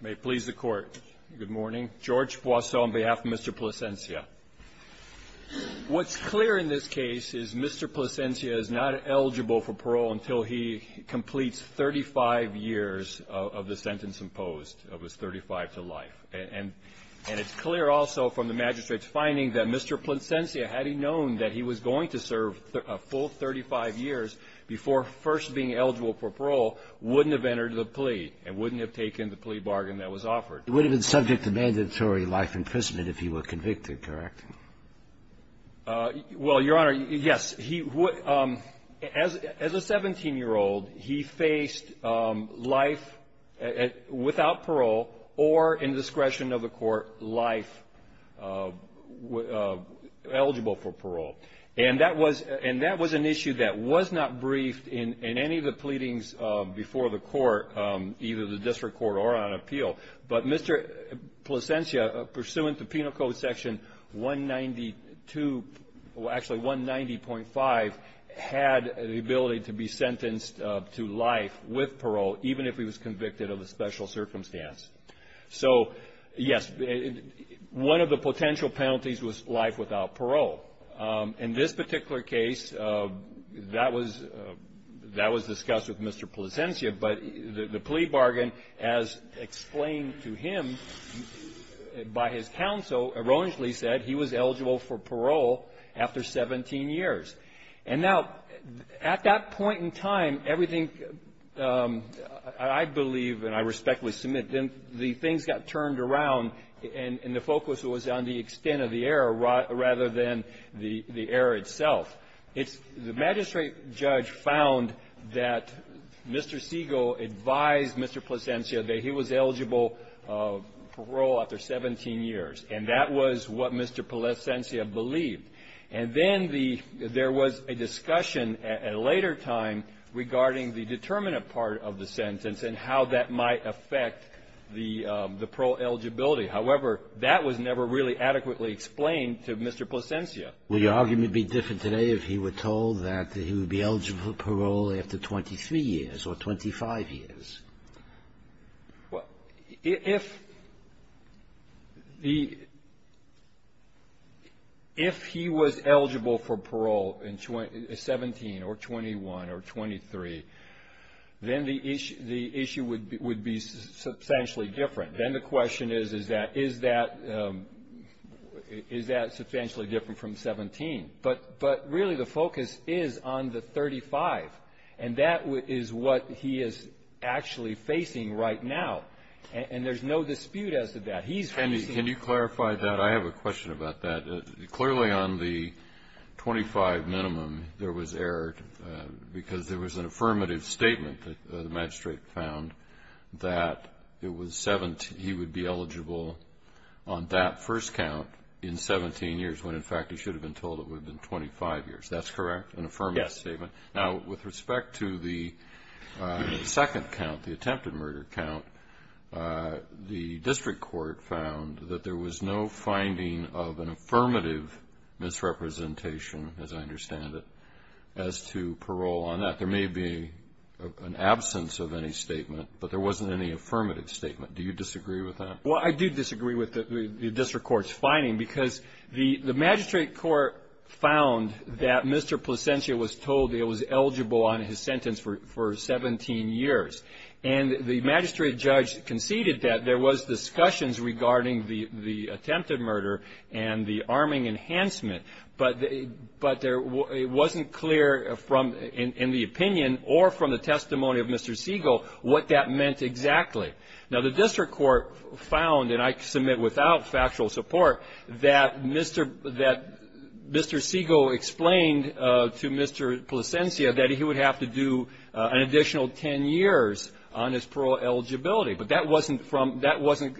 May it please the Court. Good morning. George Poisson on behalf of Mr. Plansencia. What's clear in this case is Mr. Plansencia is not eligible for parole until he completes 35 years of the sentence imposed of his 35 to life. And it's clear also from the magistrate's finding that Mr. Plansencia, had he known that he was going to serve a full 35 years before first being eligible for parole, wouldn't have entered the plea and wouldn't have taken the plea bargain that was offered. He would have been subject to mandatory life imprisonment if he were convicted, correct? Well, Your Honor, yes. As a 17-year-old, he faced life without parole or, in discretion of the Court, life eligible for parole. And that was an issue that was not briefed in any of the pleadings before the Court, either the District Court or on appeal. But Mr. Plansencia, pursuant to Penal Code Section 190.5, had the ability to be sentenced to life with parole, even if he was convicted of a special circumstance. So, yes, one of the potential penalties was life without parole. In this particular case, that was discussed with Mr. Plansencia. But the plea bargain, as explained to him by his counsel, erroneously said he was eligible for parole after 17 years. And now, at that point in time, everything, I believe and I respectfully submit, the things got turned around and the focus was on the extent of the error rather than the error itself. The magistrate judge found that Mr. Segal advised Mr. Plansencia that he was eligible for parole after 17 years. And that was what Mr. Plansencia believed. And then the – there was a discussion at a later time regarding the determinant part of the sentence and how that might affect the parole eligibility. However, that was never really adequately explained to Mr. Plansencia. Will your argument be different today if he were told that he would be eligible for parole after 23 years or 25 years? Well, if the – if he was eligible for parole in 17 or 21 or 23, then the issue would be substantially different. Then the question is, is that – is that substantially different from 17? But really, the focus is on the 35. And that is what he is actually facing right now. And there's no dispute as to that. He's facing – Can you clarify that? I have a question about that. Clearly, on the 25 minimum, there was error because there was an affirmative statement that the magistrate found that it was – he would be eligible on that first count in 17 years, when in fact he should have been told it would have been 25 years. That's correct? An affirmative statement? Yes. Now, with respect to the second count, the attempted murder count, the district court found that there was no finding of an affirmative misrepresentation, as I understand it, as to parole on that. There may be an absence of any statement, but there wasn't any affirmative statement. Do you disagree with that? Well, I do disagree with the district court's finding, because the magistrate court found that Mr. Placentia was told he was eligible on his sentence for 17 years. And the magistrate judge conceded that there was discussions regarding the attempted murder and the arming enhancement, but it wasn't clear from – in the opinion or from the testimony of Mr. Siegel what that meant exactly. Now, the district court found, and I submit without factual support, that Mr. – that Mr. Siegel explained to Mr. Placentia that he would have to do an additional 10 years on his parole eligibility, but that wasn't from – that wasn't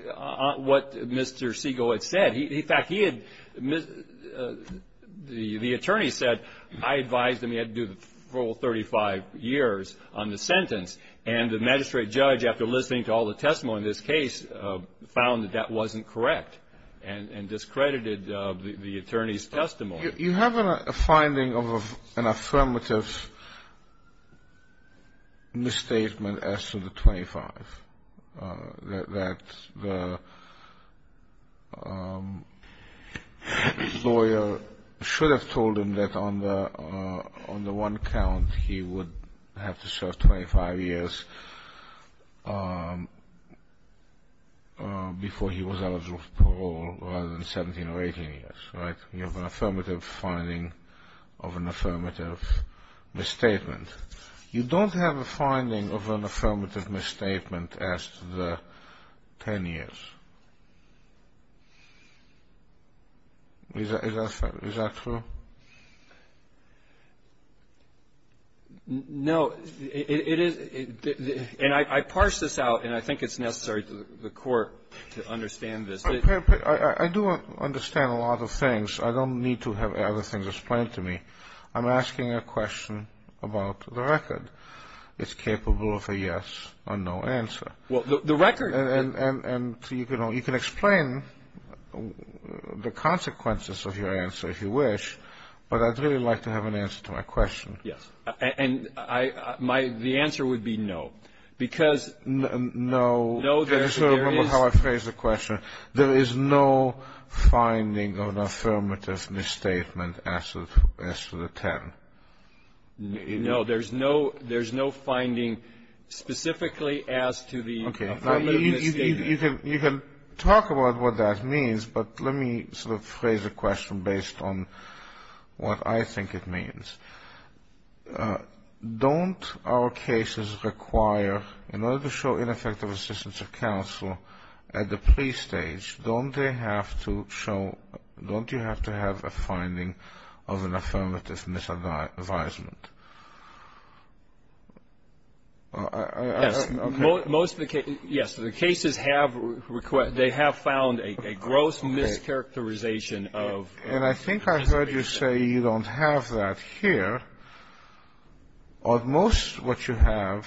what Mr. Siegel had said. In fact, he had – the attorney said, I advised him he had to do the full 35 years on the sentence, and the magistrate judge, after listening to all the testimony in this case, found that that wasn't correct and discredited the attorney's testimony. You have a finding of an affirmative misstatement as to the 25, that the lawyer should have told him that on the one count, he would have to serve 25 years before he was eligible for parole, rather than 17 or 18 years, right? You have an affirmative finding of an affirmative misstatement. You don't have a finding of an affirmative misstatement as to the 10 years. Is that – is that true? No. It is – and I parsed this out, and I think it's necessary to the court to understand this. I do understand a lot of things. I don't need to have other things explained to me. I'm asking a question about the record. It's capable of a yes or no answer. Well, the record – And you can explain the consequences of your answer, if you wish, but I'd really like to have an answer to my question. Yes. And I – my – the answer would be no, because – No. No, there is – No, there's no – there's no finding specifically as to the affirmative misstatement. Okay. Now, you can – you can talk about what that means, but let me sort of phrase a question based on what I think it means. Don't our cases require, in order to show ineffective assistance of counsel at the pre-stage, don't they have to show – don't you have to have a finding of an affirmative misadvisement? Yes. Most of the cases – yes, the cases have – they have found a gross mischaracterization of – And I think I heard you say you don't have that here. At most, what you have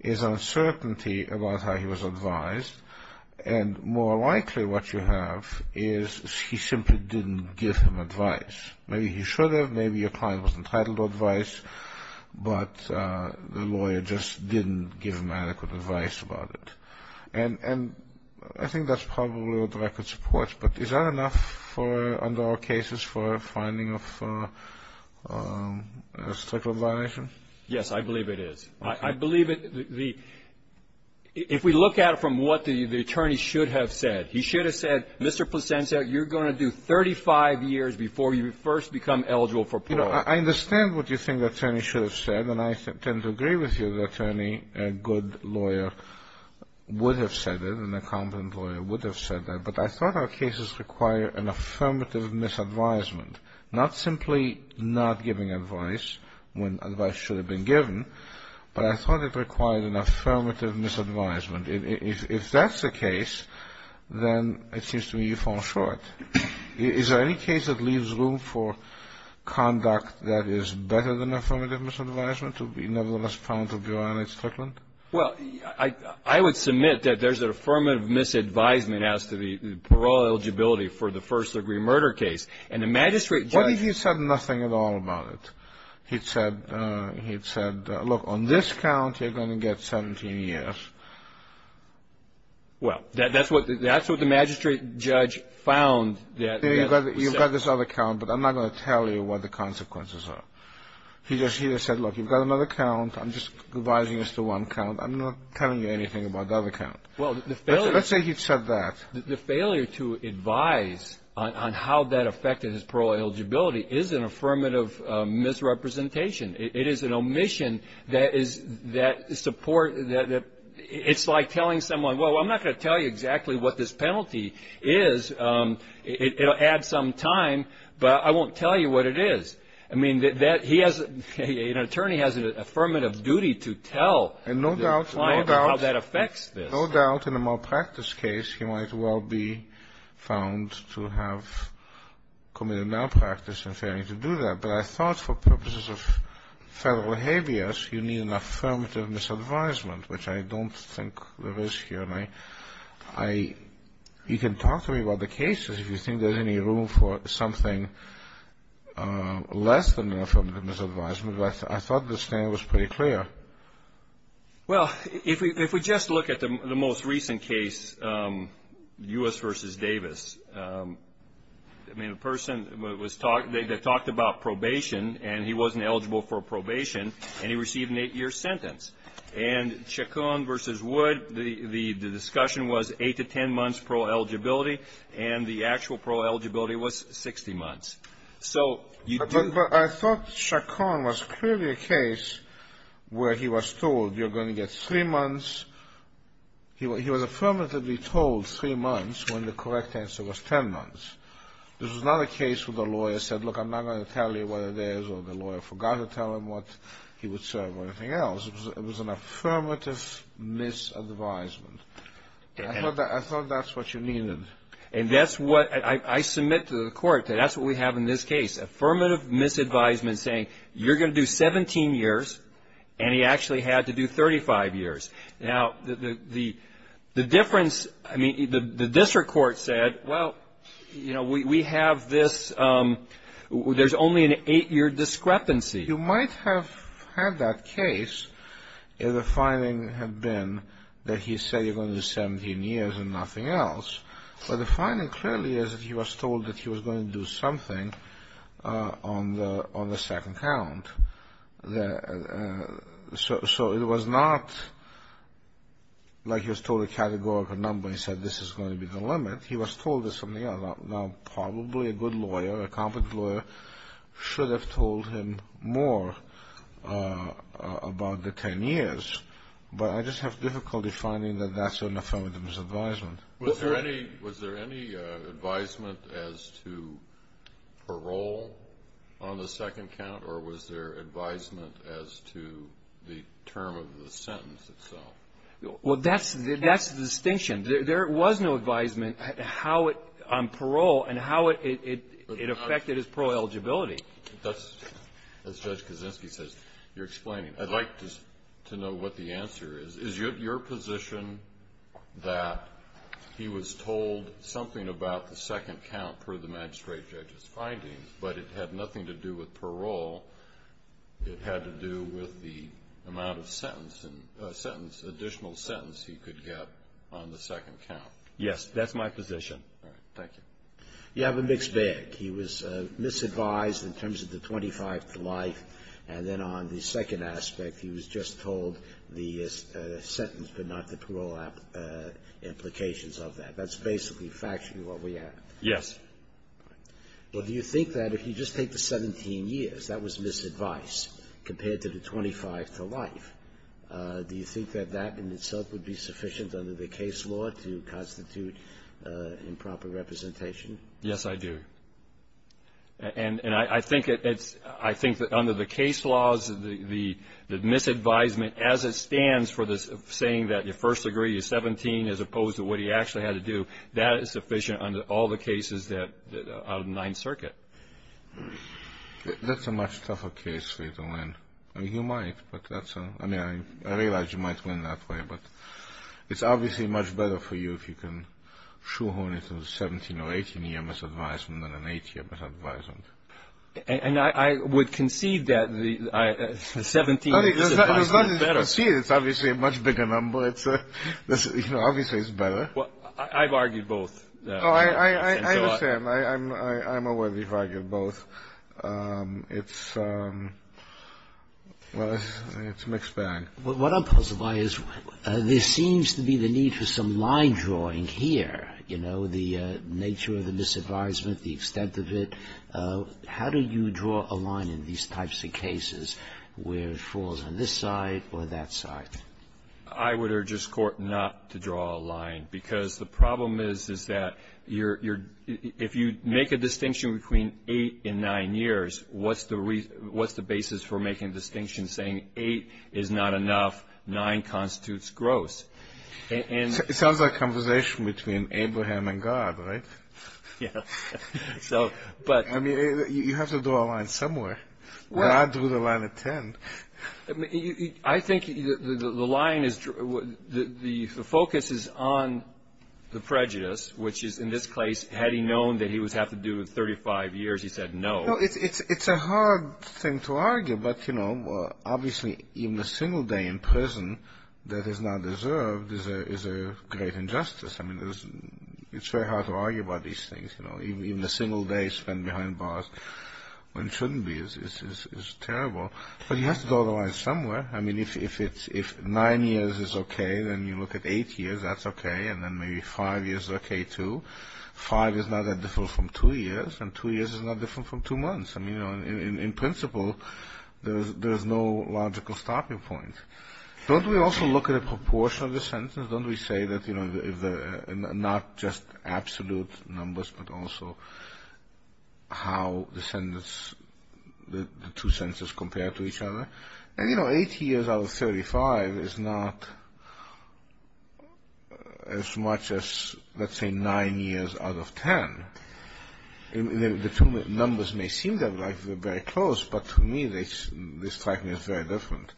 is uncertainty about how he was advised, and more likely what you have is he simply didn't give him advice. Maybe he should have, maybe your client was entitled to advice, but the lawyer just didn't give him adequate advice about it. And I think that's probably what the record supports, but is that enough for – under our cases for a finding of a stricter violation? Yes, I believe it is. Okay. I believe it – the – if we look at it from what the attorney should have said, he should have said, Mr. Plisenski, you're going to do 35 years before you first become eligible for parole. You know, I understand what you think the attorney should have said, and I tend to agree with you that a good lawyer would have said it, and a competent lawyer would have said that, but I thought our cases require an affirmative misadvisement, not simply not giving advice when advice should have been given, but I thought it required an affirmative misadvisement. If that's the case, then it seems to me you fall short. Is there any case that leaves room for conduct that is better than affirmative misadvisement to be nevertheless found to be relatively strict? Well, I would submit that there's an affirmative misadvisement as to the parole eligibility for the first-degree murder case, and the magistrate judge – What if he said nothing at all about it? He'd said, look, on this count, you're going to get 17 years. Well, that's what the magistrate judge found that – You've got this other count, but I'm not going to tell you what the consequences are. He just said, look, you've got another count. I'm just advising as to one count. I'm not telling you anything about the other count. Well, the failure – Let's say he'd said that. The failure to advise on how that affected his parole eligibility is an affirmative misrepresentation. It is an omission that is – it's like telling someone, well, I'm not going to tell you exactly what this penalty is. It'll add some time, but I won't tell you what it is. I mean, he has – an attorney has an affirmative duty to tell the client how that affects this. No doubt in a malpractice case he might well be found to have committed malpractice in failing to do that, but I thought for purposes of Federal behaviors, you need an affirmative misadvisement, which I don't think there is here. I – you can talk to me about the cases if you think there's any room for something less than an affirmative misadvisement, but I thought this thing was pretty clear. Well, if we just look at the most recent case, U.S. v. Davis, I mean, the person was – they talked about probation and he wasn't eligible for probation and he received an eight-year sentence. And Chacon v. Wood, the discussion was eight to ten months pro-eligibility and the actual pro-eligibility was 60 months. So you do – But I thought Chacon was clearly a case where he was told you're going to get three months. He was affirmatively told three months when the correct answer was ten months. This was not a case where the lawyer said, look, I'm not going to tell you what it is or the lawyer forgot to tell him what he would serve or anything else. It was an affirmative misadvisement. I thought that's what you needed. And that's what – I submit to the court that that's what we have in this case, affirmative misadvisement saying you're going to do 17 years and he actually had to do 35 years. Now, the difference – I mean, the district court said, well, you know, we have this – there's only an eight-year discrepancy. You might have had that case if the finding had been that he said you're going to do 17 years and nothing else, but the finding clearly is that he was told that he was going to do something on the second count. So it was not like he was told a categorical number and he said this is going to be the limit. He was told this and the other. Now, probably a good lawyer, a competent lawyer, should have told him more about the 10 years, but I just have difficulty finding that that's an affirmative misadvisement. Was there any – was there any advisement as to parole on the second count or was there advisement as to the term of the sentence itself? Well, that's the distinction. Again, there was no advisement on parole and how it affected his parole eligibility. That's – as Judge Kaczynski says, you're explaining. I'd like to know what the answer is. Is your position that he was told something about the second count per the magistrate judge's findings, but it had nothing to do with parole? It had to do with the amount of sentence, additional sentence he could get on the second count? Yes, that's my position. All right. Thank you. You have a mixed bag. He was misadvised in terms of the 25 to life, and then on the second aspect, he was just told the sentence but not the parole implications of that. That's basically factually what we have. Yes. All right. Well, do you think that if you just take the 17 years, that was misadvice compared to the 25 to life, do you think that that in itself would be sufficient under the case law to constitute improper representation? Yes, I do. And I think it's – I think that under the case laws, the misadvisement, as it stands for the saying that you first agree you're 17 as opposed to what he actually had to do, that is sufficient under all the cases that – out of the Ninth Circuit. That's a much tougher case for you to win. I mean, you might, but that's – I mean, I realize you might win that way, but it's obviously much better for you if you can shoehorn it to a 17 or 18-year misadvisement than an 8-year misadvisement. And I would concede that the 17 – No, there's nothing to concede. It's obviously a much bigger number. It's – you know, obviously it's better. Well, I've argued both. Oh, I understand. I'm aware that you've argued both. It's – well, it's a mixed bag. What I'm puzzled by is there seems to be the need for some line drawing here, you know, the nature of the misadvisement, the extent of it. How do you draw a line in these types of cases where it falls on this side or that side? I would urge this Court not to draw a line because the problem is that you're – if you make a distinction between 8 and 9 years, what's the basis for making a distinction saying 8 is not enough, 9 constitutes gross? It sounds like a conversation between Abraham and God, right? Yeah. So, but – I mean, you have to draw a line somewhere. God drew the line at 10. I think the line is – the focus is on the prejudice, which is in this case, had he known that he would have to do with 35 years, he said no. It's a hard thing to argue, but, you know, obviously even a single day in prison that is not deserved is a great injustice. I mean, it's very hard to argue about these things, you know. Even a single day spent behind bars when it shouldn't be is terrible. But you have to draw the line somewhere. I mean, if 9 years is okay, then you look at 8 years, that's okay, and then maybe 5 years is okay, too. 5 is not that different from 2 years, and 2 years is not different from 2 months. I mean, you know, in principle, there is no logical stopping point. Don't we also look at a proportion of the sentence? Don't we say that, you know, not just absolute numbers, but also how the sentence – the two sentences compare to each other? And, you know, 8 years out of 35 is not as much as, let's say, 9 years out of 10. The two numbers may seem very close, but to me, they strike me as very different.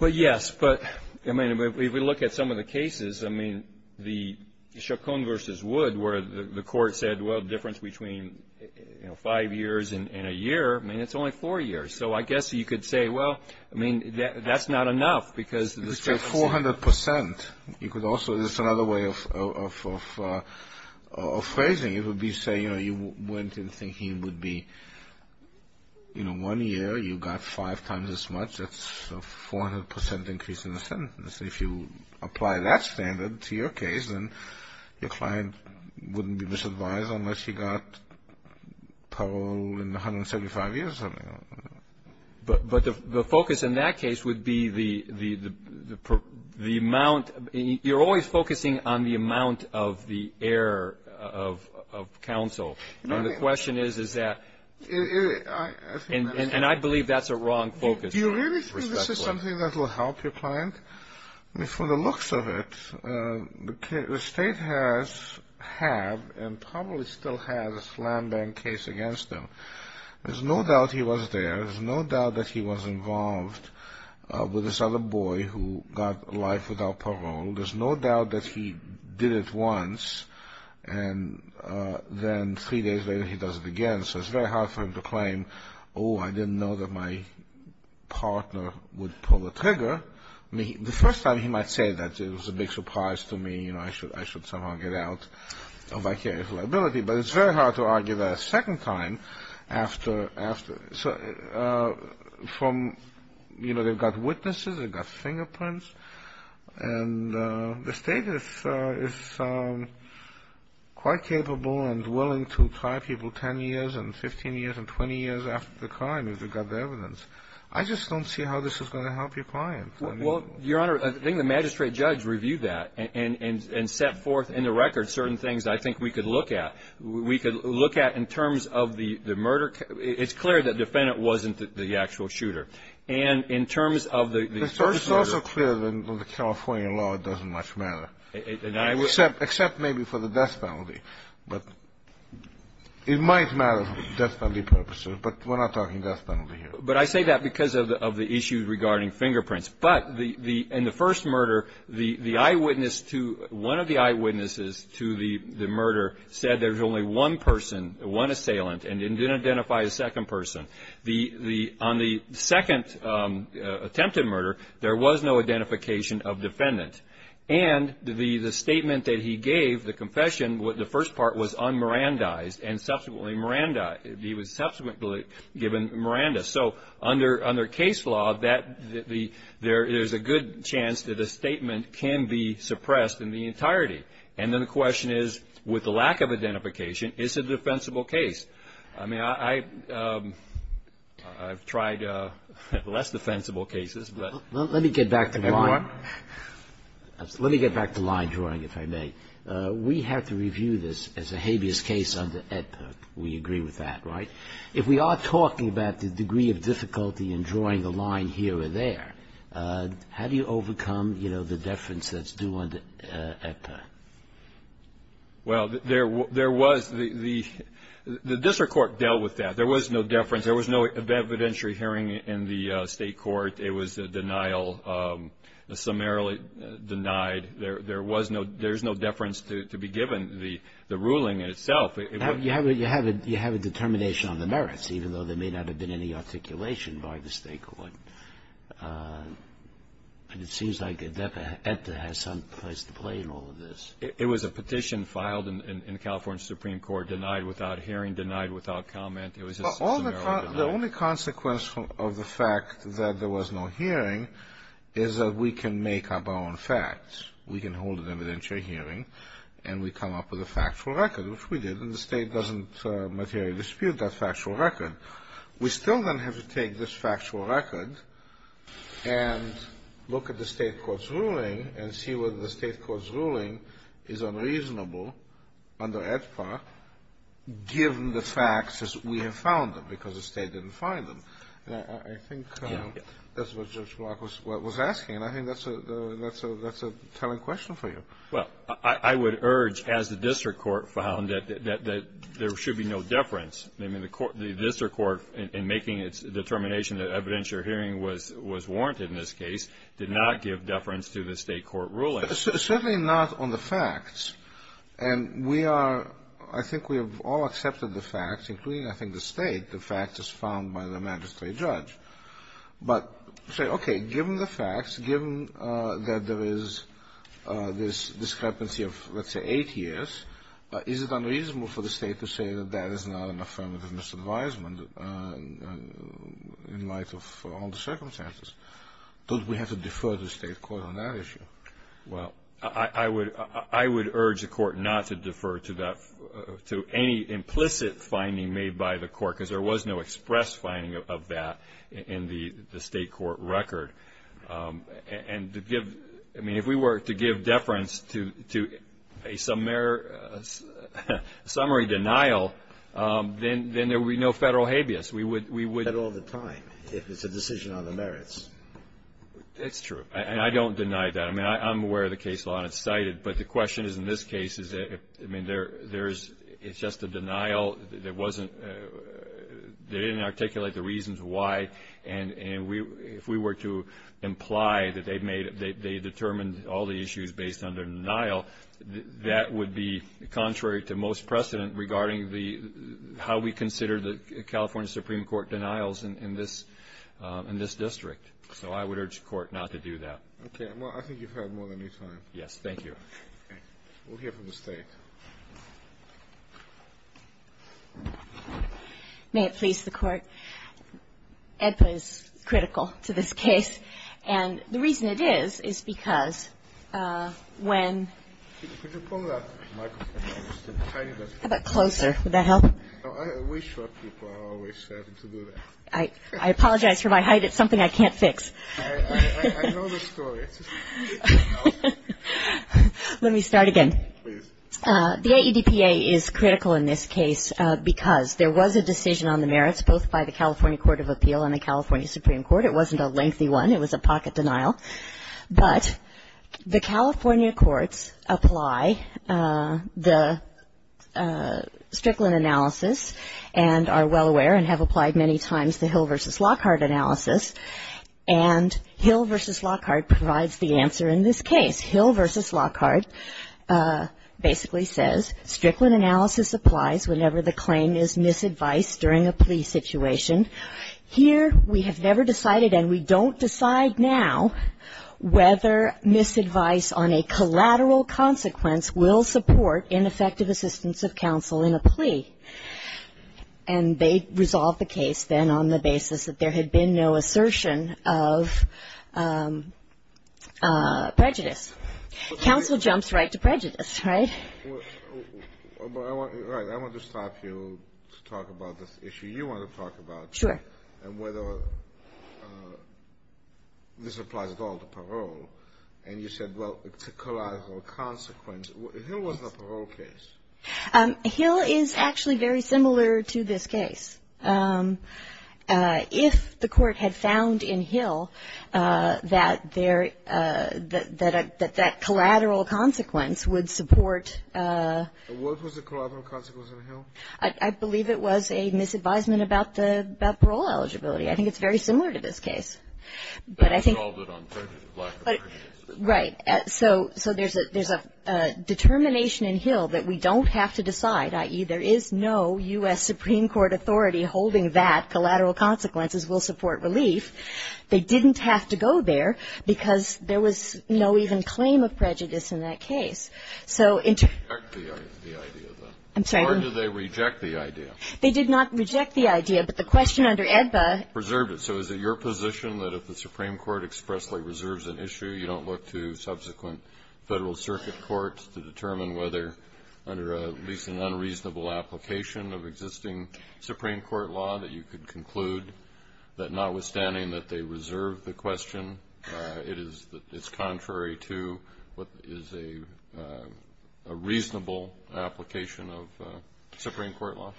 Well, yes, but, I mean, if we look at some of the cases, I mean, the Chaconne v. Wood where the court said, well, the difference between, you know, 5 years and a year, I mean, it's only 4 years. So I guess you could say, well, I mean, that's not enough because the sentence – Let's say 400%. You could also – there's another way of phrasing it. It would be saying, you know, you went in thinking it would be, you know, one year you got 5 times as much, that's a 400% increase in the sentence. If you apply that standard to your case, then your client wouldn't be misadvised unless he got parole in 175 years or something like that. But the focus in that case would be the amount – you're always focusing on the amount of the error of counsel. And the question is, is that – and I believe that's a wrong focus. Do you really think this is something that will help your client? I mean, from the looks of it, the state has – have and probably still has a slam-bang case against them. There's no doubt he was there. There's no doubt that he was involved with this other boy who got life without parole. There's no doubt that he did it once and then 3 days later he does it again. So it's very hard for him to claim, oh, I didn't know that my partner would pull the trigger. The first time he might say that it was a big surprise to me, you know, I should somehow get out of my case of liability. But it's very hard to argue that a second time after – from, you know, they've got witnesses, they've got fingerprints. And the state is quite capable and willing to try people 10 years and 15 years and 20 years after the crime if they've got the evidence. I just don't see how this is going to help your client. Well, Your Honor, I think the magistrate judge reviewed that and set forth in the record certain things I think we could look at. We could look at in terms of the murder – it's clear that the defendant wasn't the actual shooter. And in terms of the first murder – It's also clear that in the California law it doesn't much matter. Except maybe for the death penalty. But it might matter for death penalty purposes, but we're not talking death penalty here. But I say that because of the issue regarding fingerprints. But in the first murder, the eyewitness to – one of the eyewitnesses to the murder said there was only one person, one assailant, and didn't identify a second person. On the second attempted murder, there was no identification of defendant. And the statement that he gave, the confession, the first part was un-Mirandized and subsequently Miranda. He was subsequently given Miranda. So under case law, there is a good chance that a statement can be suppressed in the entirety. And then the question is, with the lack of identification, is it a defensible case? I mean, I've tried less defensible cases. Let me get back to line drawing, if I may. We have to review this as a habeas case under AEDPA. We agree with that, right? If we are talking about the degree of difficulty in drawing the line here or there, how do you overcome the deference that's due under AEDPA? Well, there was – the district court dealt with that. There was no deference. There was no evidentiary hearing in the state court. It was a denial, summarily denied. There was no – there's no deference to be given the ruling itself. You have a determination on the merits, even though there may not have been any articulation by the state court. And it seems like AEDPA has some place to play in all of this. It was a petition filed in the California Supreme Court, denied without hearing, denied without comment. It was a – The only consequence of the fact that there was no hearing is that we can make up our own facts. We can hold an evidentiary hearing, and we come up with a factual record, which we did, and the state doesn't materially dispute that factual record. We still then have to take this factual record and look at the state court's ruling and see whether the state court's ruling is unreasonable under AEDPA, given the facts as we have found them, because the state didn't find them. I think that's what Judge Block was asking, and I think that's a telling question for you. Well, I would urge, as the district court found, that there should be no deference. I mean, the district court, in making its determination that evidentiary hearing was warranted in this case, did not give deference to the state court ruling. Certainly not on the facts. And we are – I think we have all accepted the facts, including, I think, the State. The fact is found by the magistrate judge. But say, okay, given the facts, given that there is this discrepancy of, let's say, eight years, is it unreasonable for the State to say that that is not an affirmative misadvisement in light of all the circumstances? Don't we have to defer to the state court on that issue? Well, I would urge the court not to defer to any implicit finding made by the court, because there was no express finding of that in the state court record. And to give – I mean, if we were to give deference to a summary denial, then there would be no Federal habeas. We would – we would – You get that all the time, if it's a decision on the merits. It's true. And I don't deny that. I mean, I'm aware of the case law, and it's cited. But the question is, in this case, is that – I mean, there's – it's just a denial. There wasn't – they didn't articulate the reasons why. And if we were to imply that they made – they determined all the issues based on their denial, that would be contrary to most precedent regarding the – how we consider the California Supreme Court denials in this district. So I would urge the court not to do that. Okay. Well, I think you've had more than your time. Yes. We'll hear from the State. May it please the Court. Edpa is critical to this case. And the reason it is, is because when – Could you pull that microphone up just a tiny bit? How about closer? Would that help? We short people always have to do that. I apologize for my height. It's something I can't fix. I know the story. It's just – Let me start again. Please. The Edpa is critical in this case because there was a decision on the merits, both by the California Court of Appeal and the California Supreme Court. It wasn't a lengthy one. It was a pocket denial. But the California courts apply the Strickland analysis and are well aware and have applied many times the Hill v. Lockhart analysis. And Hill v. Lockhart provides the answer in this case. Hill v. Lockhart basically says, Strickland analysis applies whenever the claim is misadvised during a plea situation. Here we have never decided, and we don't decide now, whether misadvice on a collateral consequence will support ineffective assistance of counsel in a plea. And they resolve the case then on the basis that there had been no assertion of prejudice. Counsel jumps right to prejudice, right? Right. I want to stop you to talk about this issue. You want to talk about it. Sure. And whether this applies at all to parole. And you said, well, to collateral consequence. Hill was a parole case. Hill is actually very similar to this case. If the court had found in Hill that that collateral consequence would support. What was the collateral consequence in Hill? I believe it was a misadvisement about parole eligibility. I think it's very similar to this case. But I think. They resolved it on prejudice. Right. So there's a determination in Hill that we don't have to decide, i.e., there is no U.S. Supreme Court authority holding that collateral consequences will support relief. They didn't have to go there because there was no even claim of prejudice in that case. So. I'm sorry. Or did they reject the idea? They did not reject the idea. But the question under EDBA. Preserved it. So is it your position that if the Supreme Court expressly reserves an issue, you don't look to subsequent Federal Circuit courts to determine whether, under at least an unreasonable application of existing Supreme Court law, that you could conclude that notwithstanding that they reserve the question, it is that it's contrary to what is a reasonable application of Supreme Court law?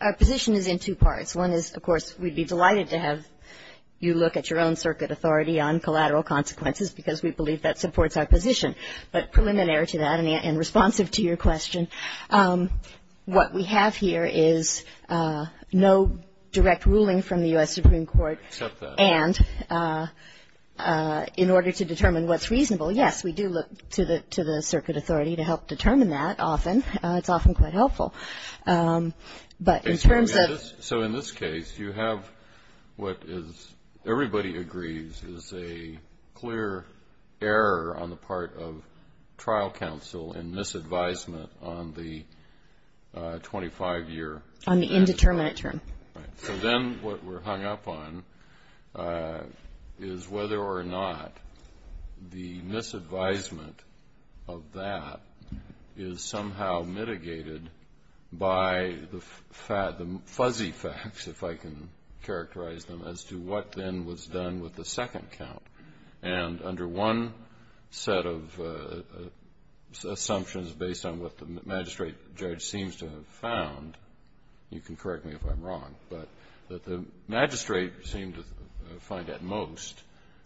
Our position is in two parts. One is, of course, we'd be delighted to have you look at your own circuit authority on collateral consequences because we believe that supports our position. But preliminary to that and responsive to your question, what we have here is no direct ruling from the U.S. Supreme Court. Except that. And in order to determine what's reasonable, yes, we do look to the circuit authority to help determine that often. It's often quite helpful. But in terms of. So in this case, you have what is, everybody agrees, is a clear error on the part of trial counsel and misadvisement on the 25-year. On the indeterminate term. Right. So then what we're hung up on is whether or not the misadvisement of that is somehow mitigated by the fuzzy facts, if I can characterize them, as to what then was done with the second count. And under one set of assumptions based on what the magistrate judge seems to have found, you can correct me if I'm wrong, but that the magistrate seemed to find at most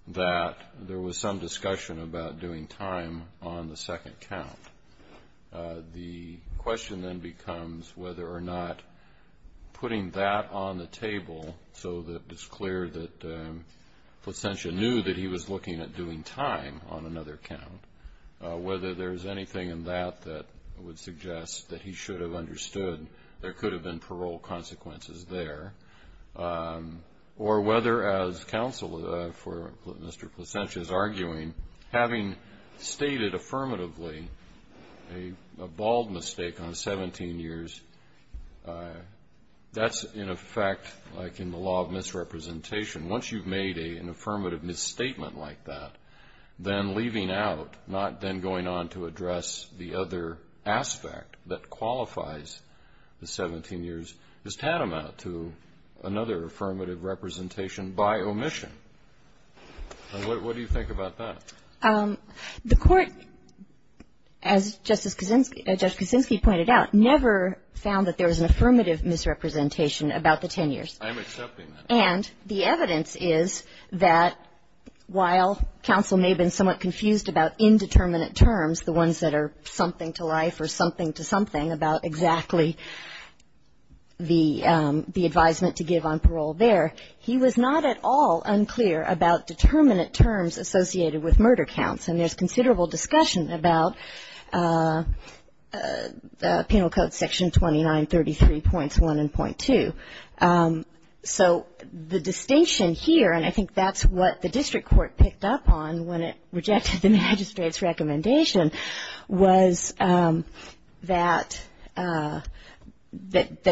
that there was some discussion about doing time on the second count. The question then becomes whether or not putting that on the table so that it's clear that Placentia knew that he was looking at doing time on another count, whether there's anything in that that would suggest that he should have understood there could have been parole consequences there, or whether, as counsel for Mr. Placentia is arguing, having stated affirmatively a bald mistake on 17 years, that's in effect like in the law of misrepresentation. Once you've made an affirmative misstatement like that, then leaving out, not then going on to address the other aspect that qualifies the 17 years, is tantamount to another affirmative representation by omission. What do you think about that? The Court, as Justice Kuczynski pointed out, never found that there was an affirmative misrepresentation about the 10 years. I'm accepting that. And the evidence is that while counsel may have been somewhat confused about indeterminate terms, the ones that are something to life or something to something, about exactly the advisement to give on parole there, he was not at all unclear about determinate terms associated with murder counts. And there's considerable discussion about Penal Code Section 2933.1 and .2. So the distinction here, and I think that's what the district court picked up on when it rejected the magistrate's recommendation, was that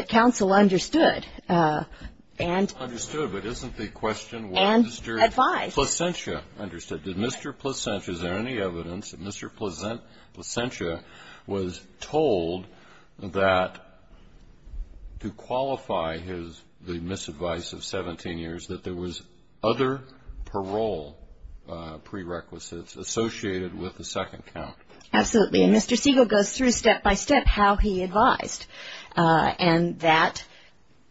counsel understood and advised. Understood, but isn't the question what Mr. Placentia understood? Did Mr. Placentia, is there any evidence that Mr. Placentia was told that to qualify the misadvice of 17 years, that there was other parole prerequisites associated with the second count? Absolutely. And Mr. Siegel goes through step by step how he advised, and that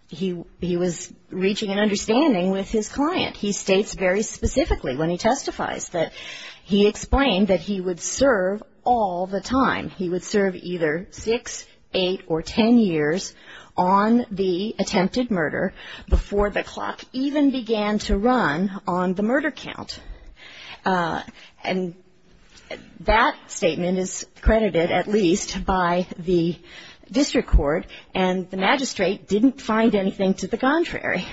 he was reaching an understanding with his client. He states very specifically when he testifies that he explained that he would serve all the time. He would serve either 6, 8, or 10 years on the attempted murder before the clock even began to run on the murder count. And that statement is credited at least by the district court, and the magistrate didn't find anything to the contrary.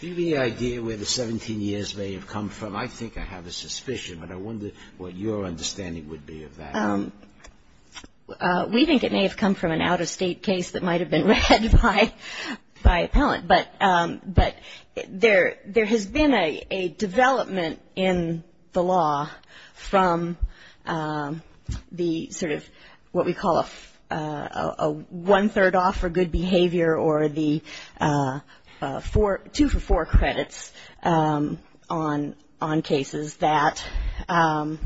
Do you have any idea where the 17 years may have come from? I think I have a suspicion, but I wonder what your understanding would be of that. We think it may have come from an out-of-state case that might have been read by an appellant. But there has been a development in the law from the sort of what we call a one-third off for good behavior or the two-for-four credits on cases that ----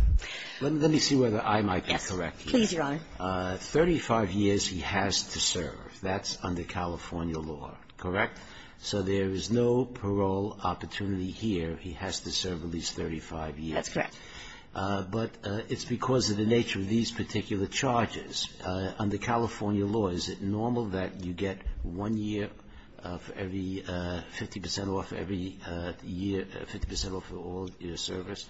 Let me see whether I might be correct here. Yes, please, Your Honor. 35 years he has to serve. That's under California law, correct? So there is no parole opportunity here. He has to serve at least 35 years. That's correct. But it's because of the nature of these particular charges. Yes. Under California law, is it normal that you get one year for every 50% off every year, 50% off for all year service?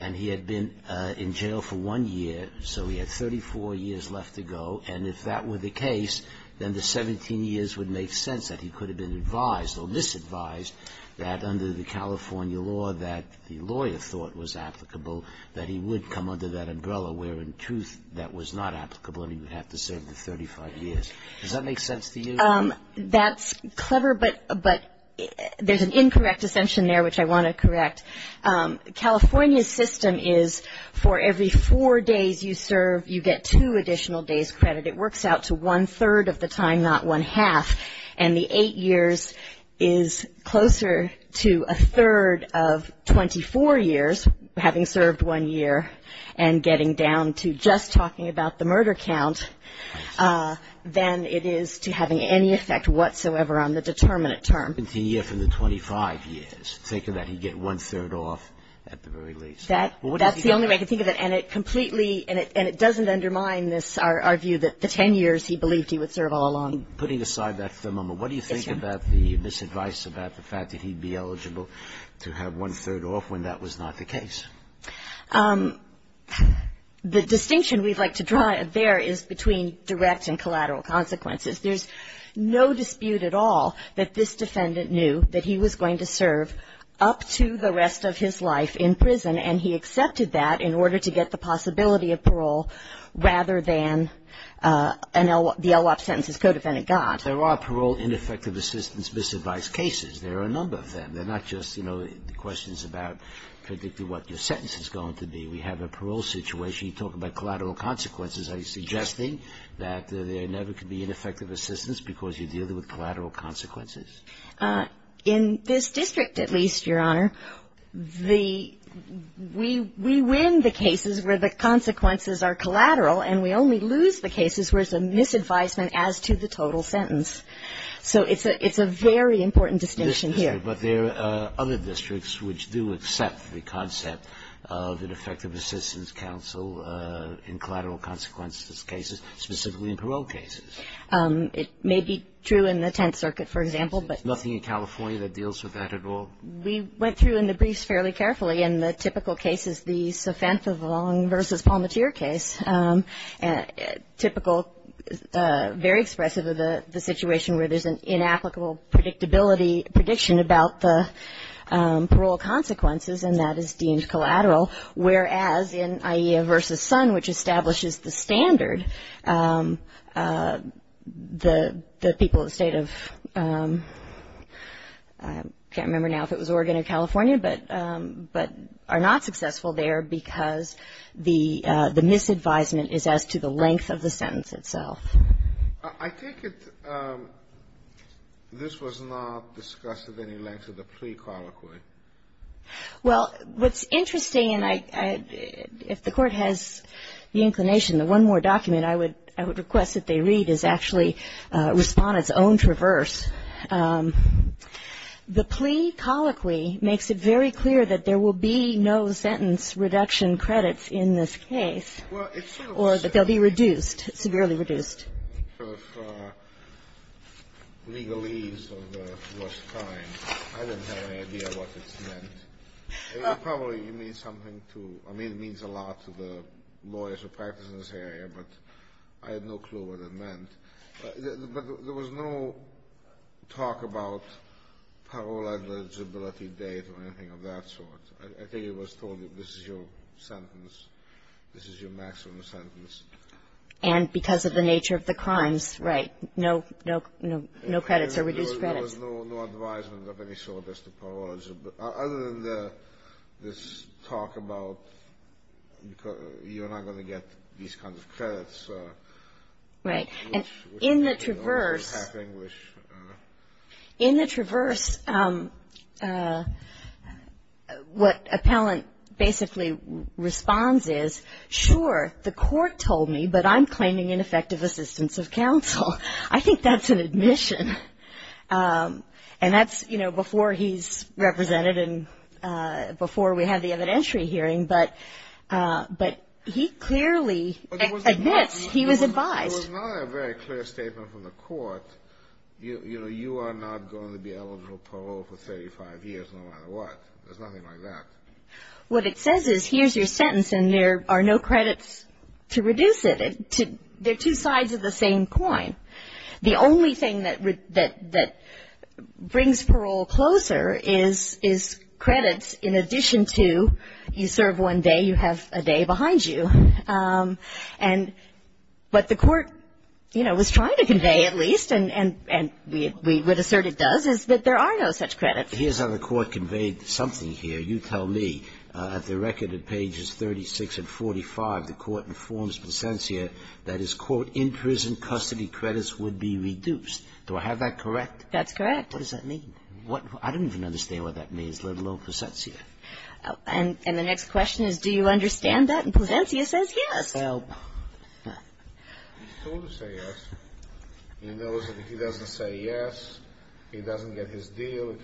And he had been in jail for one year, so he had 34 years left to go. And if that were the case, then the 17 years would make sense that he could have been advised or disadvised that under the California law that the lawyer thought was applicable, that he would come under that umbrella, where in truth that was not applicable and he would have to serve the 35 years. Does that make sense to you? That's clever, but there's an incorrect assumption there which I want to correct. California's system is for every four days you serve, you get two additional days credit. It works out to one-third of the time, not one-half. And the eight years is closer to a third of 24 years, having served one year, and getting down to just talking about the murder count, than it is to having any effect whatsoever on the determinate term. The year from the 25 years. Think of that. You get one-third off at the very least. That's the only way I can think of it. And it completely, and it doesn't undermine this, our view that the 10 years he believed he would serve all along. Putting aside that for the moment, what do you think about the misadvice about the fact that he'd be eligible to have one-third off when that was not the case? The distinction we'd like to draw there is between direct and collateral consequences. There's no dispute at all that this defendant knew that he was going to serve up to the rest of his life in prison, and he accepted that in order to get the possibility of parole rather than the LWAP sentence his co-defendant got. There are parole ineffective assistance misadvice cases. There are a number of them. They're not just questions about predicting what your sentence is going to be. We have a parole situation. You talk about collateral consequences. Are you suggesting that there never could be ineffective assistance because you're dealing with collateral consequences? In this district at least, Your Honor, we win the cases where the consequences are collateral, and we only lose the cases where it's a misadvice as to the total sentence. So it's a very important distinction here. But there are other districts which do accept the concept of an effective assistance counsel in collateral consequences cases, specifically in parole cases. It may be true in the Tenth Circuit, for example. There's nothing in California that deals with that at all? We went through in the briefs fairly carefully. In the typical cases, the Sofenthavong v. Palmatier case, typical, very expressive of the situation where there's an inapplicable prediction about the parole consequences, and that is deemed collateral. Whereas in AIEA v. Sun, which establishes the standard, the people of the State of, I can't remember now if it was Oregon or California, but are not successful there because the misadvisement is as to the length of the sentence itself. I take it this was not discussed of any length of the pre-colloquy. Well, what's interesting, and if the Court has the inclination, the one more document I would request that they read is actually Respondent's Own Traverse. The plea colloquy makes it very clear that there will be no sentence reduction credits in this case. Or that they'll be reduced, severely reduced. For legalese of the first time, I didn't have any idea what it meant. It probably means something to the lawyers who practice in this area, but I had no clue what it meant. But there was no talk about parole eligibility date or anything of that sort. I think it was told this is your sentence, this is your maximum sentence. And because of the nature of the crimes, right, no credits or reduced credits. There was no advisement of any sort as to parole eligibility. Other than this talk about you're not going to get these kinds of credits. Right. And in the Traverse what Appellant basically responds is, sure, the Court told me, but I'm claiming ineffective assistance of counsel. I think that's an admission. And that's, you know, before he's represented and before we had the evidentiary hearing. But he clearly admits he was advised. It was not a very clear statement from the Court. You know, you are not going to be eligible for parole for 35 years no matter what. There's nothing like that. What it says is here's your sentence and there are no credits to reduce it. They're two sides of the same coin. The only thing that brings parole closer is credits in addition to you serve one day, you have a day behind you. And what the Court, you know, was trying to convey at least and we would assert it does is that there are no such credits. Here's how the Court conveyed something here. You tell me at the record at pages 36 and 45 the Court informs Placentia that his, quote, in-prison custody credits would be reduced. Do I have that correct? That's correct. What does that mean? I don't even understand what that means, let alone Placentia. And the next question is do you understand that? And Placentia says yes. Well, he's told to say yes. He knows that if he doesn't say yes, he doesn't get his deal.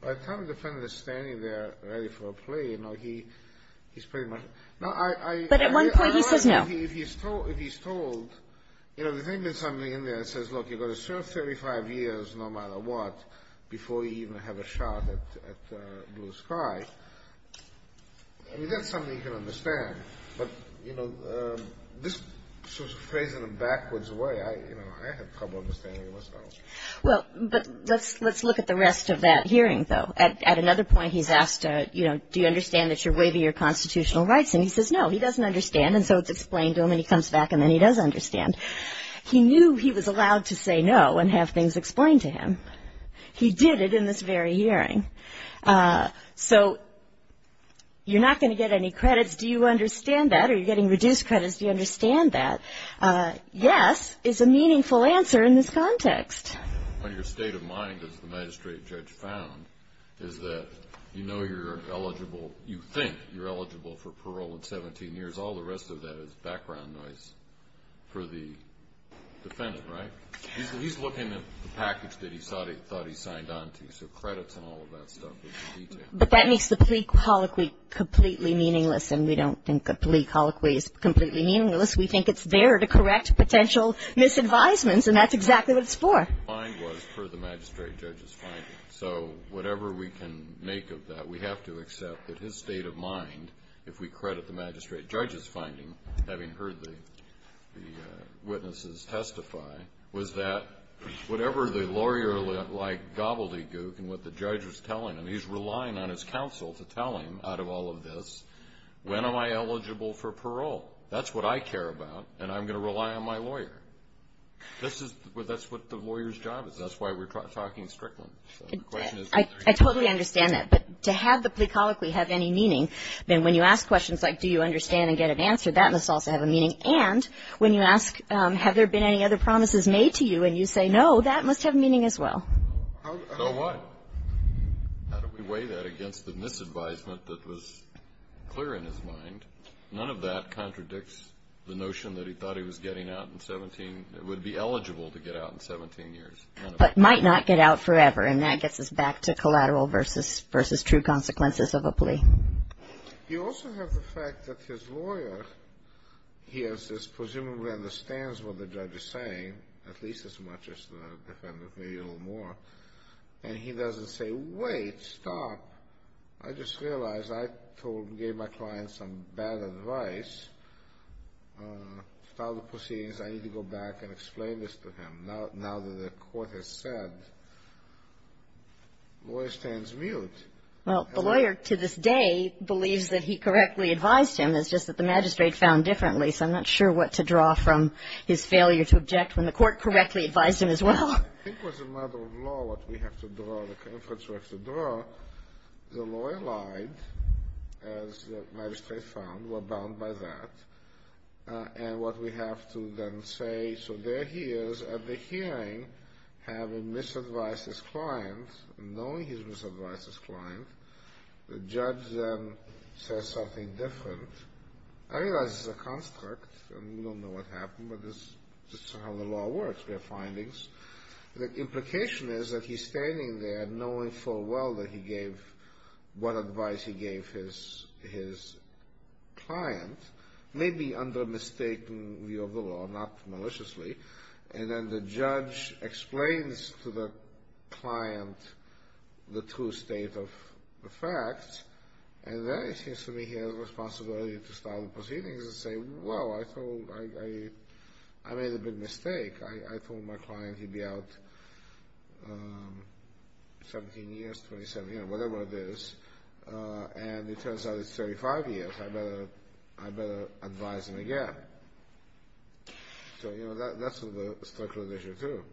By the time the defendant is standing there ready for a plea, you know, he's pretty much... But at one point he says no. If he's told, you know, the thing that's something in there that says, look, you've got to serve 35 years no matter what before you even have a shot at blue sky, I mean, that's something you can understand. But, you know, this sort of phrase in a backwards way, you know, I have trouble understanding what's going on. Well, but let's look at the rest of that hearing, though. At another point he's asked, you know, do you understand that you're waiving your constitutional rights? And he says no. He doesn't understand, and so it's explained to him, and he comes back, and then he does understand. He knew he was allowed to say no and have things explained to him. He did it in this very hearing. So you're not going to get any credits. Do you understand that? Are you getting reduced credits? Do you understand that? Yes is a meaningful answer in this context. On your state of mind, as the magistrate judge found, is that you know you're eligible. You think you're eligible for parole in 17 years. All the rest of that is background noise for the defendant, right? He's looking at the package that he thought he signed on to, so credits and all of that stuff. But that makes the plea colloquy completely meaningless, and we don't think a plea colloquy is completely meaningless. We think it's there to correct potential misadvisements, and that's exactly what it's for. My mind was for the magistrate judge's finding. So whatever we can make of that, we have to accept that his state of mind, if we credit the magistrate judge's finding, having heard the witnesses testify, was that whatever the lawyer like gobbledygook in what the judge was telling him, he's relying on his counsel to tell him out of all of this, when am I eligible for parole? That's what I care about, and I'm going to rely on my lawyer. That's what the lawyer's job is. That's why we're talking strictly. I totally understand that, but to have the plea colloquy have any meaning, then when you ask questions like do you understand and get it answered, that must also have a meaning. And when you ask have there been any other promises made to you, and you say no, that must have meaning as well. So what? How do we weigh that against the misadvisement that was clear in his mind? None of that contradicts the notion that he thought he was getting out in 17, would be eligible to get out in 17 years. But might not get out forever, and that gets us back to collateral versus true consequences of a plea. You also have the fact that his lawyer, he has this, presumably understands what the judge is saying, at least as much as the defendant, maybe a little more, and he doesn't say wait, stop. I just realized I gave my client some bad advice. I need to go back and explain this to him. Now that the court has said, lawyer stands mute. Well, the lawyer to this day believes that he correctly advised him. It's just that the magistrate found differently, so I'm not sure what to draw from his failure to object when the court correctly advised him as well. I think it was a matter of law what we have to draw, the inference we have to draw. The lawyer lied, as the magistrate found, we're bound by that. And what we have to then say, so there he is at the hearing having misadvised his client, knowing he's misadvised his client, the judge then says something different. I realize this is a construct, and we don't know what happened, but this is how the law works. We have findings. The implication is that he's standing there knowing full well that he gave what advice he gave his client, maybe under a mistaken view of the law, not maliciously, and then the judge explains to the client the true state of the fact, and then it seems to me he has a responsibility to start the proceedings and say, well, I made a big mistake. I told my client he'd be out 17 years, 27 years, whatever it is, and it turns out it's 35 years. I better advise him again. So, you know, that's a structural issue, too.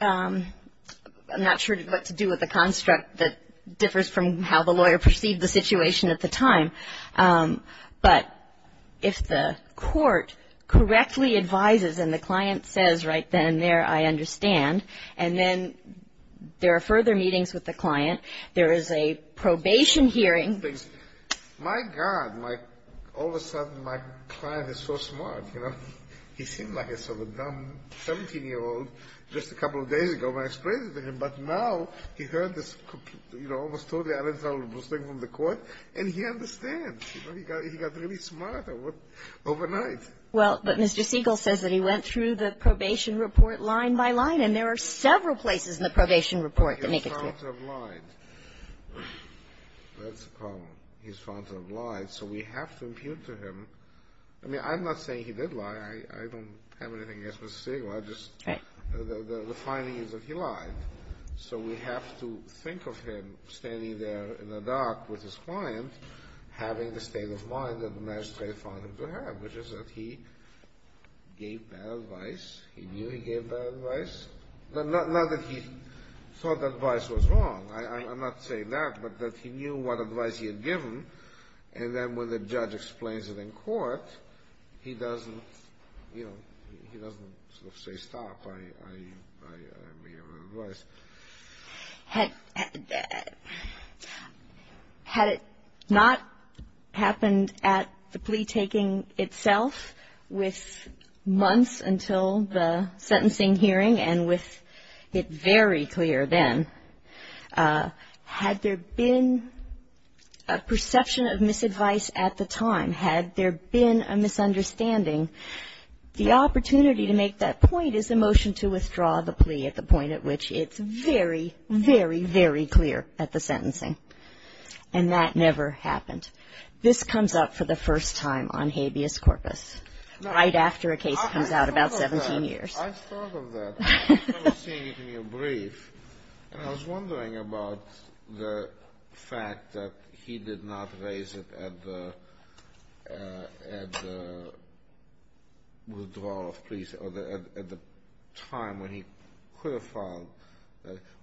I'm not sure what to do with the construct that differs from how the lawyer perceived the situation at the time. But if the court correctly advises and the client says right then and there, I understand, and then there are further meetings with the client, there is a probation hearing. My God, all of a sudden my client is so smart, you know. He seemed like a sort of dumb 17-year-old just a couple of days ago when I explained it to him, but now he heard this, you know, almost totally unintelligible thing from the court, and he understands. You know, he got really smart overnight. Well, but Mr. Siegel says that he went through the probation report line by line, and there are several places in the probation report that make it clear. He's found to have lied. That's the problem. He's found to have lied, so we have to impute to him. I mean, I'm not saying he did lie. I don't have anything against Mr. Siegel. The finding is that he lied. So we have to think of him standing there in the dark with his client having the state of mind that the magistrate found him to have, which is that he gave bad advice. He knew he gave bad advice. Not that he thought the advice was wrong. I'm not saying that, but that he knew what advice he had given, and then when the judge explains it in court, he doesn't, you know, he doesn't sort of say stop. I may have given advice. Had it not happened at the plea-taking itself with months until the sentencing hearing and with it very clear then, had there been a perception of misadvice at the time, had there been a misunderstanding, the opportunity to make that point is the motion to withdraw the plea at the point at which it's very, very, very clear at the sentencing, and that never happened. This comes up for the first time on habeas corpus, right after a case comes out about 17 years. I've thought of that. I've seen it in your brief, and I was wondering about the fact that he did not raise it at the withdrawal of pleas or at the time when he could have filed.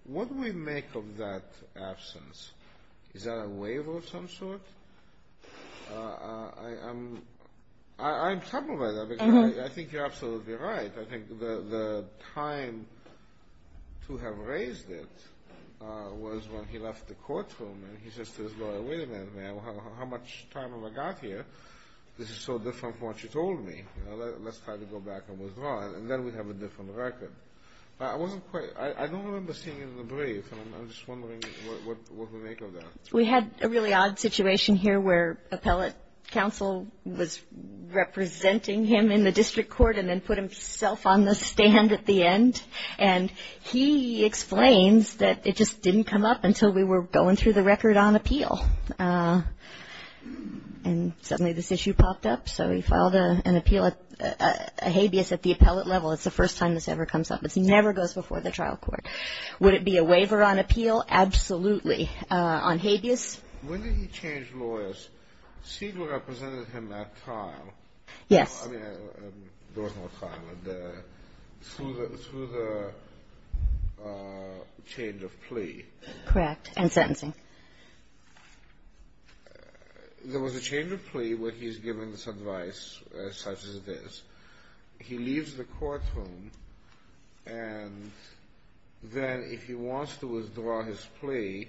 What do we make of that absence? Is that a waiver of some sort? I'm troubled by that because I think you're absolutely right. I think the time to have raised it was when he left the courtroom, and he says to his lawyer, wait a minute, man, how much time have I got here? This is so different from what you told me. Let's try to go back and withdraw it, and then we'd have a different record. I don't remember seeing it in the brief, and I'm just wondering what we make of that. We had a really odd situation here where appellate counsel was representing him in the district court and then put himself on the stand at the end, and he explains that it just didn't come up until we were going through the record on appeal, and suddenly this issue popped up, so he filed an appeal, a habeas at the appellate level. It's the first time this ever comes up. It never goes before the trial court. Would it be a waiver on appeal? Absolutely. On habeas? When did he change lawyers? Siegel represented him at trial. Yes. I mean, there was no trial. Through the change of plea. Correct. And sentencing. There was a change of plea where he's given this advice such as this. He leaves the courtroom, and then if he wants to withdraw his plea,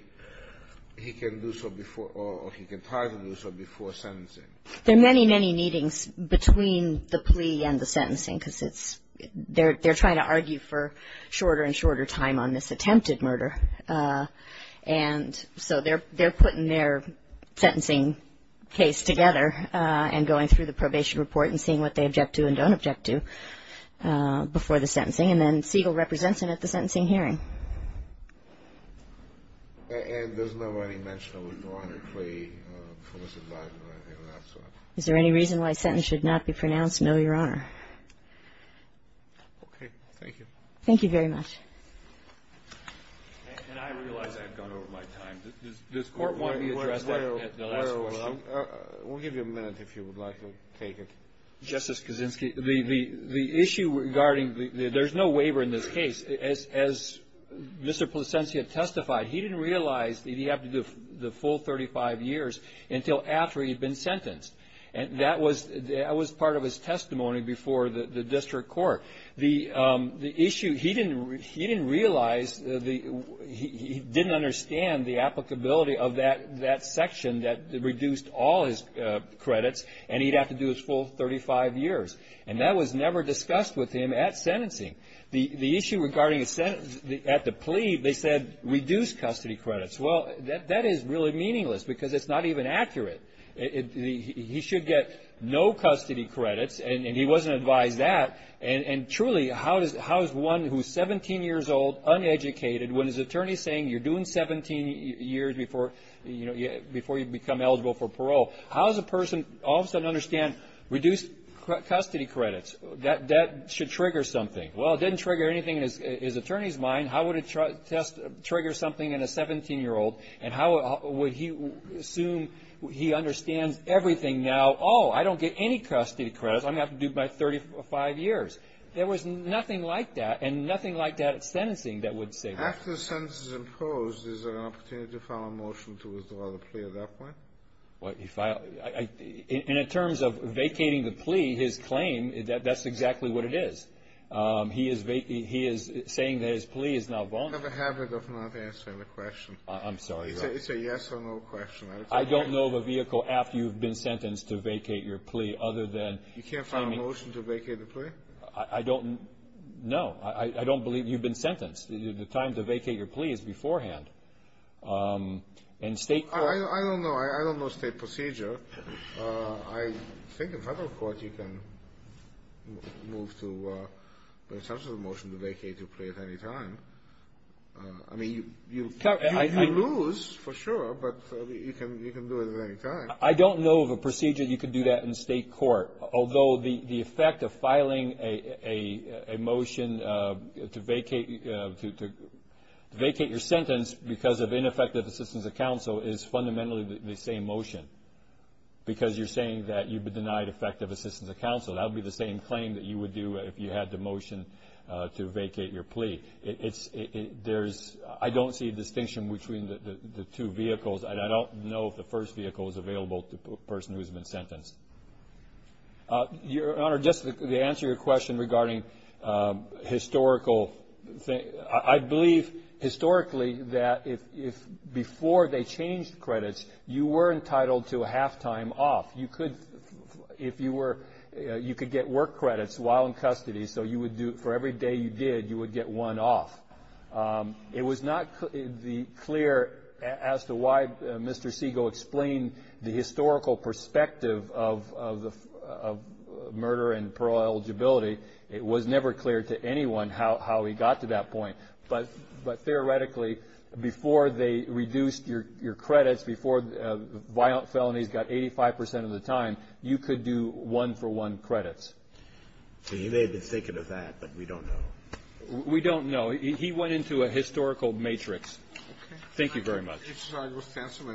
he can do so before or he can try to do so before sentencing. There are many, many meetings between the plea and the sentencing, because it's they're trying to argue for shorter and shorter time on this attempted murder, and so they're putting their sentencing case together and going through the probation report and seeing what they object to and don't object to before the sentencing, and then Siegel represents him at the sentencing hearing. And there's never any mention of withdrawing a plea for this advice or anything of that sort? Is there any reason why a sentence should not be pronounced? No, Your Honor. Okay. Thank you. Thank you very much. And I realize I've gone over my time. Does court want me to address that at the last question? We'll give you a minute if you would like to take it. Justice Kaczynski, the issue regarding the – there's no waiver in this case. As Mr. Placencia testified, he didn't realize that he had to do the full 35 years until after he'd been sentenced. And that was part of his testimony before the district court. The issue – he didn't realize the – he didn't understand the applicability of that section that reduced all his credits and he'd have to do his full 35 years. And that was never discussed with him at sentencing. The issue regarding at the plea, they said reduce custody credits. Well, that is really meaningless because it's not even accurate. He should get no custody credits, and he wasn't advised that. And truly, how is one who's 17 years old, uneducated, when his attorney is saying you're doing 17 years before you become eligible for parole, how does a person all of a sudden understand reduce custody credits? That should trigger something. Well, it didn't trigger anything in his attorney's mind. How would it trigger something in a 17-year-old? And how would he assume he understands everything now? Oh, I don't get any custody credits. I'm going to have to do my 35 years. There was nothing like that and nothing like that at sentencing that would say that. After the sentence is imposed, is there an opportunity to file a motion to withdraw the plea at that point? In terms of vacating the plea, his claim, that's exactly what it is. He is saying that his plea is now vulnerable. I have a habit of not answering the question. I'm sorry. It's a yes or no question. I don't know of a vehicle after you've been sentenced to vacate your plea other than claiming – I don't know. I don't believe you've been sentenced. The time to vacate your plea is beforehand. In state court – I don't know. I don't know state procedure. I think in federal court you can move to, in terms of the motion, to vacate your plea at any time. I mean, you lose for sure, but you can do it at any time. I don't know of a procedure you can do that in state court. Although the effect of filing a motion to vacate your sentence because of ineffective assistance of counsel is fundamentally the same motion because you're saying that you've been denied effective assistance of counsel. That would be the same claim that you would do if you had the motion to vacate your plea. I don't see a distinction between the two vehicles, and I don't know if the first vehicle is available to the person who's been sentenced. Your Honor, just to answer your question regarding historical – I believe historically that if before they changed credits, you were entitled to a half-time off. You could – if you were – you could get work credits while in custody, so you would do – for every day you did, you would get one off. It was not clear as to why Mr. Segal explained the historical perspective of murder and parole eligibility. It was never clear to anyone how he got to that point. But theoretically, before they reduced your credits, before violent felonies got 85 percent of the time, you could do one-for-one credits. He may have been thinking of that, but we don't know. We don't know. He went into a historical matrix. Okay. Thank you very much. Mr. Segal, stand for a minute.